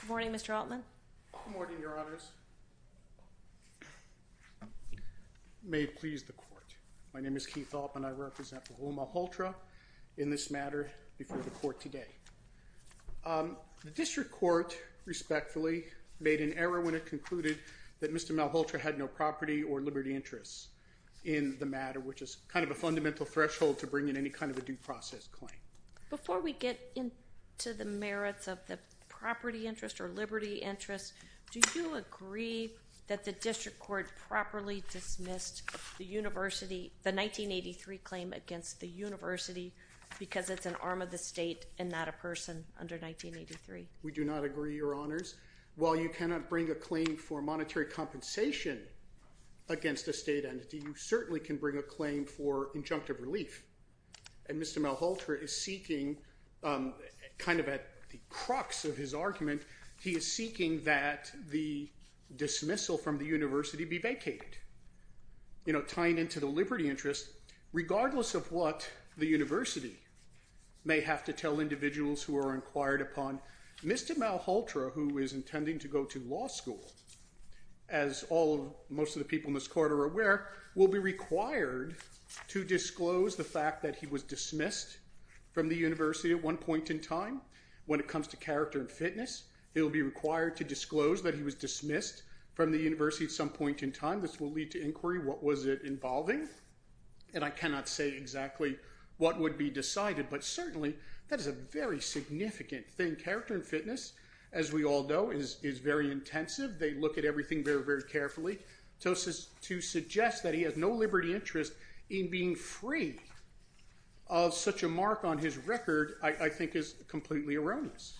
Good morning, Mr. Altman Good morning, your honors. May it please the court, my name is Keith Altman and I represent Rahul Malhotra in this matter before the court today. The district court, respectfully, made an error when it concluded that Mr. Malhotra had no property or liberty interests in the matter, which is kind of a fundamental threshold to bring in any kind of a due process claim. Before we get into the merits of the property interest or liberty interest, do you agree that the district court properly dismissed the 1983 claim against the university because it's an arm of the state and not a person under 1983? We do not agree, your honors. While you cannot bring a claim for monetary compensation against a state entity, you certainly can bring a claim for injunctive relief. And Mr. Malhotra is seeking, kind of at the crux of his argument, he is seeking that the dismissal from the university be vacated. You know, tying into the liberty interest, regardless of what the university may have to tell individuals who are inquired upon, Mr. Malhotra, who is intending to go to law school, as most of the people in this court are aware, will be required to disclose the fact that he was dismissed from the university at one point in time. When it comes to character and fitness, he will be required to disclose that he was dismissed from the university at some point in time. This will lead to inquiry, what was it involving? And I cannot say exactly what would be decided, but certainly that is a very significant thing. Character and fitness, as we all know, is very intensive. They look at everything very, very carefully. So to suggest that he has no liberty interest in being free of such a mark on his record, I think is completely erroneous.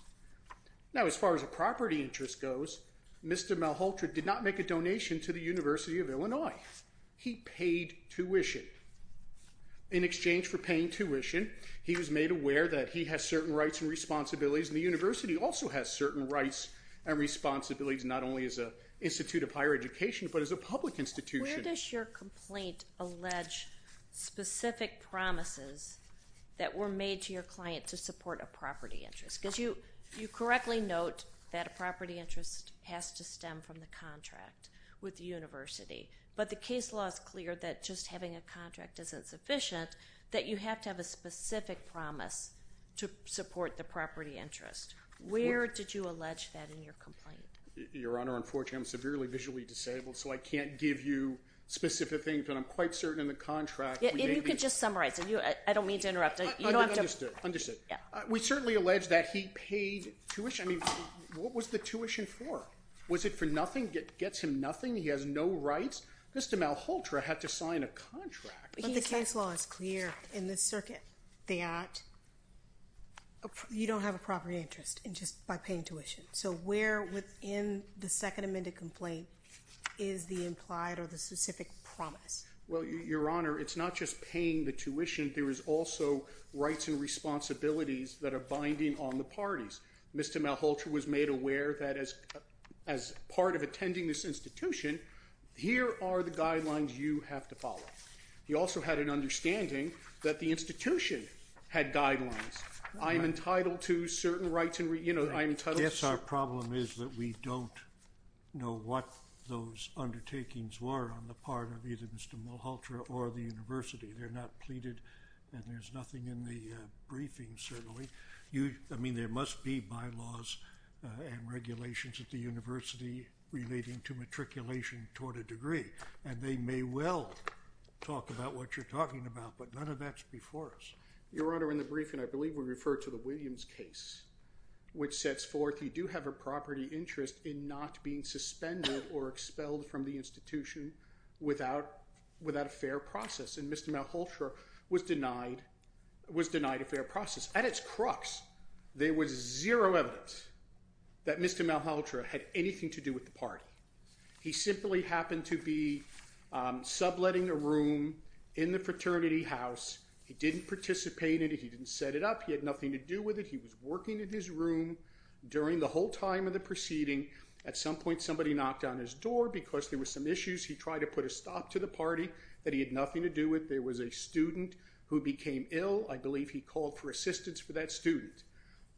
Now as far as a property interest goes, Mr. Malhotra did not make a donation to the University of Illinois. He paid tuition. In exchange for paying tuition, he was made aware that he has certain rights and responsibilities, and the university also has certain rights and responsibilities, not only as an institute of higher education, but as a public institution. Where does your complaint allege specific promises that were made to your client to support a property interest? Because you correctly note that a property interest has to stem from the contract with the university, but the case law is clear that just having a contract isn't sufficient, that you have to have a specific promise to support the property interest. Where did you allege that in your complaint? Your Honor, unfortunately, I'm severely visually disabled, so I can't give you specific things, but I'm quite certain in the contract, we may be— Yeah, if you could just summarize. I don't mean to interrupt. You don't have to— Understood. Understood. Yeah. We certainly allege that he paid tuition. I mean, what was the tuition for? Was it for nothing? Gets him nothing? He has no rights? Mr. Malhotra had to sign a contract. But the case law is clear in this circuit that you don't have a property interest just by paying tuition. So, where within the Second Amendment complaint is the implied or the specific promise? Well, Your Honor, it's not just paying the tuition, there is also rights and responsibilities that are binding on the parties. Mr. Malhotra was made aware that as part of attending this institution, here are the guidelines you have to follow. He also had an understanding that the institution had guidelines, I'm entitled to certain rights and— I guess our problem is that we don't know what those undertakings were on the part of either Mr. Malhotra or the university. They're not pleaded, and there's nothing in the briefing, certainly. I mean, there must be bylaws and regulations at the university relating to matriculation toward a degree, and they may well talk about what you're talking about, but none of that's before us. Your Honor, in the briefing, I believe we refer to the Williams case, which sets forth you do have a property interest in not being suspended or expelled from the institution without a fair process, and Mr. Malhotra was denied a fair process. At its crux, there was zero evidence that Mr. Malhotra had anything to do with the party. He simply happened to be subletting a room in the fraternity house. He didn't participate in it. He didn't set it up. He had nothing to do with it. He was working in his room during the whole time of the proceeding. At some point, somebody knocked on his door because there were some issues. He tried to put a stop to the party that he had nothing to do with. There was a student who became ill. I believe he called for assistance for that student.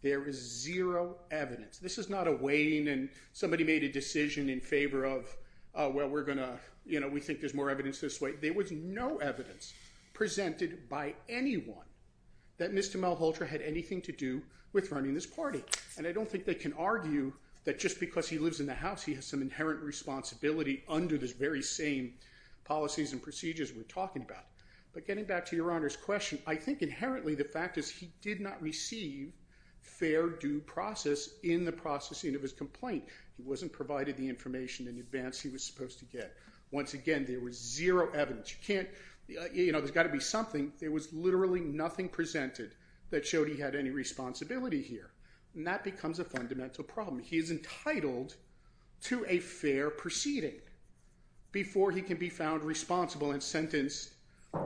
There is zero evidence. This is not a waning and somebody made a decision in favor of, well, we're going to—you know, we think there's more evidence this way. There was no evidence presented by anyone that Mr. Malhotra had anything to do with running this party. And I don't think they can argue that just because he lives in the house, he has some inherent responsibility under those very same policies and procedures we're talking about. But getting back to Your Honor's question, I think inherently the fact is he did not receive fair due process in the processing of his complaint. He wasn't provided the information in advance he was supposed to get. Once again, there was zero evidence. You can't—you know, there's got to be something. There was literally nothing presented that showed he had any responsibility here. And that becomes a fundamental problem. He is entitled to a fair proceeding before he can be found responsible and sentenced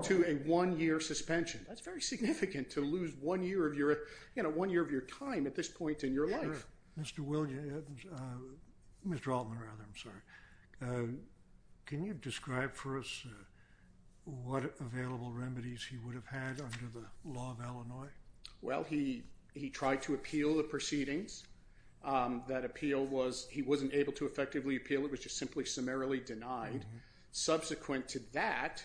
to a one-year suspension. That's very significant to lose one year of your—you know, one year of your time at this point in your life. Mr. Williams—Mr. Altman, rather, I'm sorry. Can you describe for us what available remedies he would have had under the law of Illinois? Well, he tried to appeal the proceedings. That appeal was—he wasn't able to effectively appeal. It was just simply summarily denied. Subsequent to that,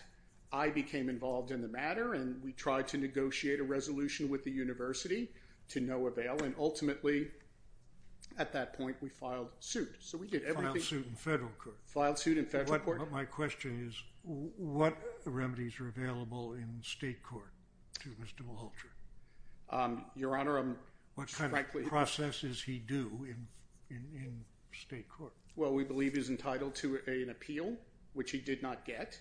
I became involved in the matter, and we tried to negotiate a resolution with the university to no avail, and ultimately, at that point, we filed suit. So we did everything— Filed suit in federal court. Filed suit in federal court. But my question is, what remedies are available in state court to Mr. Walter? Your Honor, I'm— What kind of processes he do in state court? Well, we believe he's entitled to an appeal, which he did not get,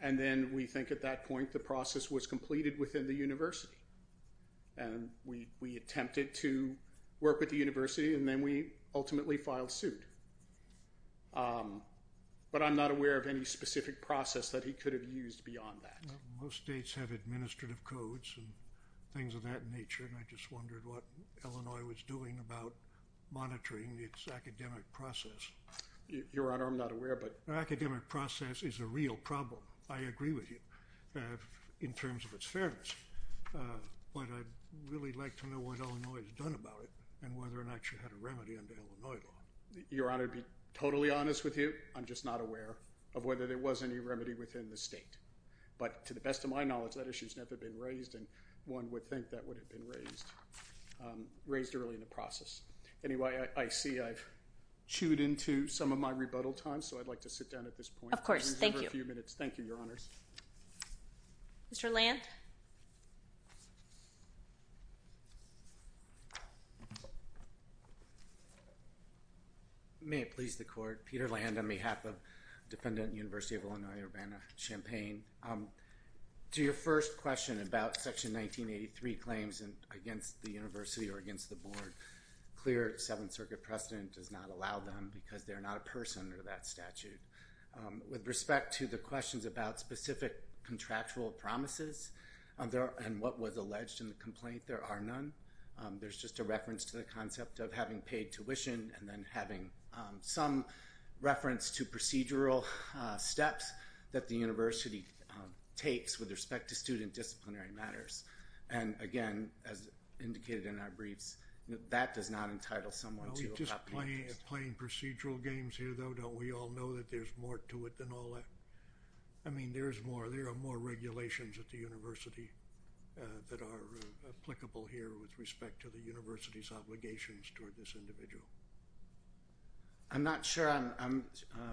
and then we think at that point, the process was completed within the university, and we attempted to work with the university, and then we ultimately filed suit. But I'm not aware of any specific process that he could have used beyond that. Most states have administrative codes and things of that nature, and I just wondered what Illinois was doing about monitoring its academic process. Your Honor, I'm not aware, but— Academic process is a real problem. I agree with you in terms of its fairness, but I'd really like to know what Illinois has done about it and whether or not you had a remedy under Illinois law. Your Honor, to be totally honest with you, I'm just not aware of whether there was any remedy within the state. But to the best of my knowledge, that issue's never been raised, and one would think that would have been raised early in the process. Anyway, I see I've chewed into some of my rebuttal time, so I'd like to sit down at this point. Of course. We have a few minutes. Thank you, Your Honors. Mr. Land? May it please the Court, Peter Land on behalf of Defendant University of Illinois Urbana-Champaign. To your first question about Section 1983 claims against the university or against the board, clear Seventh Circuit precedent does not allow them because they're not a person under that statute. With respect to the questions about specific contractual promises and what was alleged in the complaint, there are none. There's just a reference to the concept of having paid tuition and then having some reference to procedural steps that the university takes with respect to student disciplinary matters. And again, as indicated in our briefs, that does not entitle someone to appeal. Playing procedural games here, though, don't we all know that there's more to it than all that? I mean, there's more. There are more regulations at the university that are applicable here with respect to the university's obligations toward this individual. I'm not sure I'm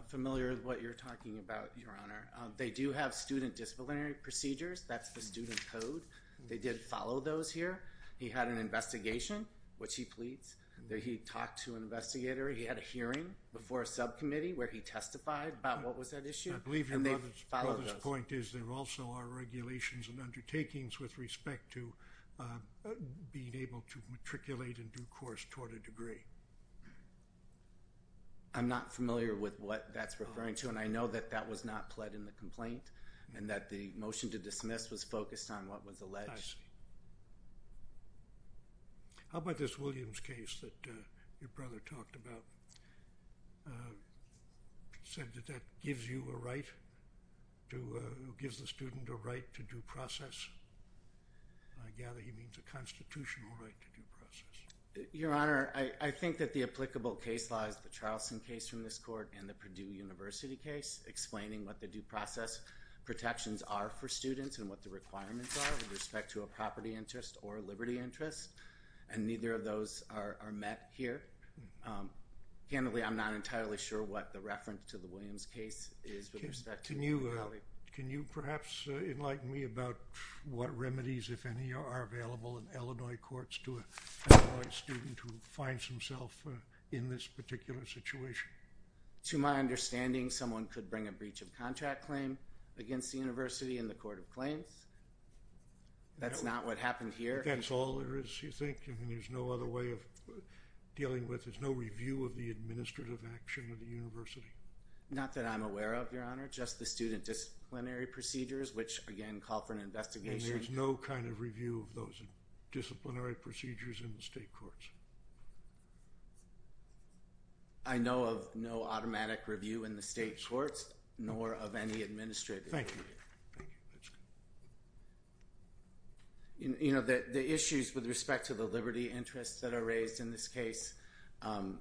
familiar with what you're talking about, Your Honor. They do have student disciplinary procedures. That's the student code. They did follow those here. He had an investigation, which he pleads. He talked to an investigator. He had a hearing before a subcommittee where he testified about what was at issue. I believe your brother's point is there also are regulations and undertakings with respect to being able to matriculate in due course toward a degree. I'm not familiar with what that's referring to, and I know that that was not pled in the complaint and that the motion to dismiss was focused on what was alleged. I see. How about this Williams case that your brother talked about, said that that gives you a right to, uh, gives the student a right to due process? I gather he means a constitutional right to due process. Your Honor, I, I think that the applicable case law is the Charleston case from this court and the Purdue University case, explaining what the due process protections are for students and what the requirements are with respect to a property interest or a liberty interest, and neither of those are, are met here. Um, candidly, I'm not entirely sure what the reference to the Williams case is with respect to. Can you, uh, can you perhaps, uh, enlighten me about what remedies, if any, are available in Illinois courts to a Illinois student who finds himself, uh, in this particular situation? To my understanding, someone could bring a breach of contract claim against the university in the court of claims. That's not what happened here. That's all there is, you think, and there's no other way of dealing with, there's no review of the administrative action of the university? Not that I'm aware of, Your Honor, just the student disciplinary procedures, which again, call for an investigation. And there's no kind of review of those disciplinary procedures in the state courts? I know of no automatic review in the state courts, nor of any administrative. Thank you. Thank you. That's good. You, you know, the, the issues with respect to the liberty interests that are raised in this case, um,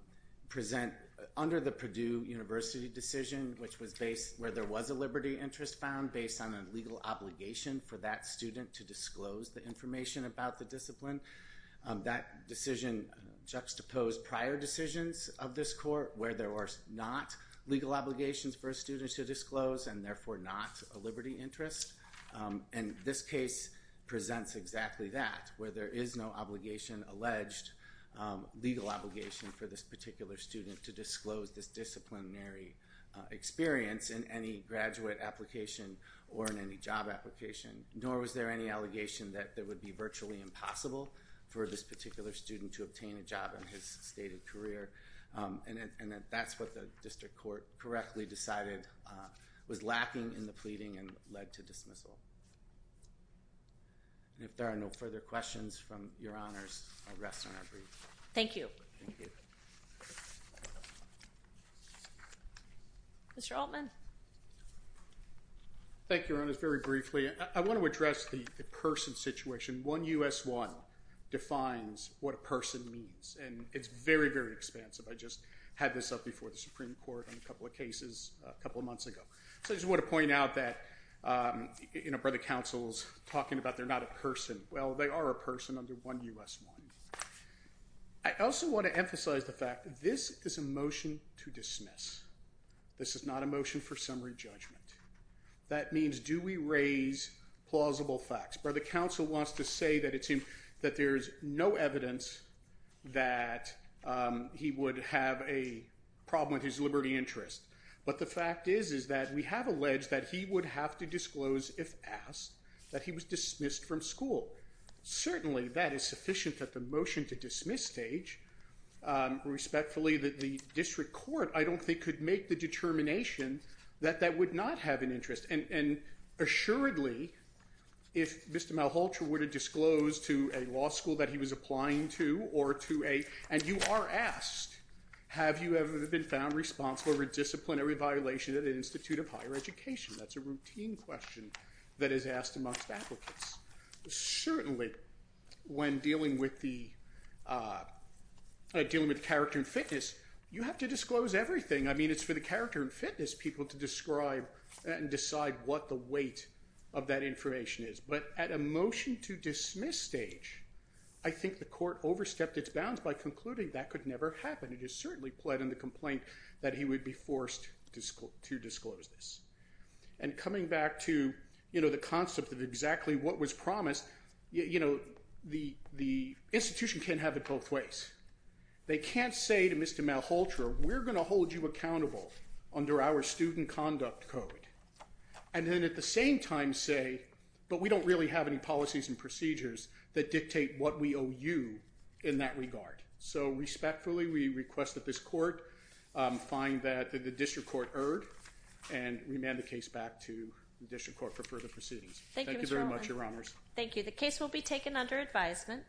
present under the Purdue University decision, which was based where there was a liberty interest found based on a legal obligation for that student to disclose the information about the discipline. Um, that decision juxtaposed prior decisions of this court where there were not legal obligations for a student to disclose, and therefore not a liberty interest, um, and this case presents exactly that, where there is no obligation, alleged, um, legal obligation for this particular student to disclose this disciplinary, uh, experience in any graduate application or in any job application, nor was there any allegation that it would be virtually impossible for this particular student to obtain a job in his stated career, um, and that, and that's what the district court correctly decided, uh, was lacking in the pleading and led to dismissal. And if there are no further questions from Your Honors, I'll rest on our brief. Thank you. Thank you. Mr. Altman. Thank you, Your Honors. Very briefly, I, I want to address the, the person situation. One U.S. one defines what a person means, and it's very, very expansive. I just had this up before the Supreme Court on a couple of cases a couple of months ago. So I just want to point out that, um, you know, Brother Counsel's talking about they're not a person. Well, they are a person under one U.S. one. I also want to emphasize the fact that this is a motion to dismiss. This is not a motion for summary judgment. That means do we raise plausible facts. Brother Counsel wants to say that it seems that there's no evidence that, um, he would have a problem with his liberty interest. But the fact is, is that we have alleged that he would have to disclose if asked that he was dismissed from school. Certainly that is sufficient that the motion to dismiss stage, um, respectfully that the district court, I don't think could make the determination that that would not have an interest. And, and assuredly, if Mr. Malholtra were to disclose to a law school that he was applying to or to a, and you are asked, have you ever been found responsible for disciplinary violation at an institute of higher education, that's a routine question that is asked amongst applicants. Certainly when dealing with the, uh, dealing with character and fitness, you have to disclose everything. I mean, it's for the character and fitness people to describe and decide what the weight of that information is. But at a motion to dismiss stage, I think the court overstepped its bounds by concluding that could never happen. It is certainly pled in the complaint that he would be forced to school to disclose this. And coming back to, you know, the concept of exactly what was promised, you know, the, the institution can't have it both ways. They can't say to Mr. Malholtra, we're going to hold you accountable under our student conduct code. And then at the same time say, but we don't really have any policies and procedures that dictate what we owe you in that regard. So respectfully, we request that this court, um, find that the district court erred and remand the case back to the district court for further proceedings. Thank you very much, your honors. Thank you. The case will be taken under advisement.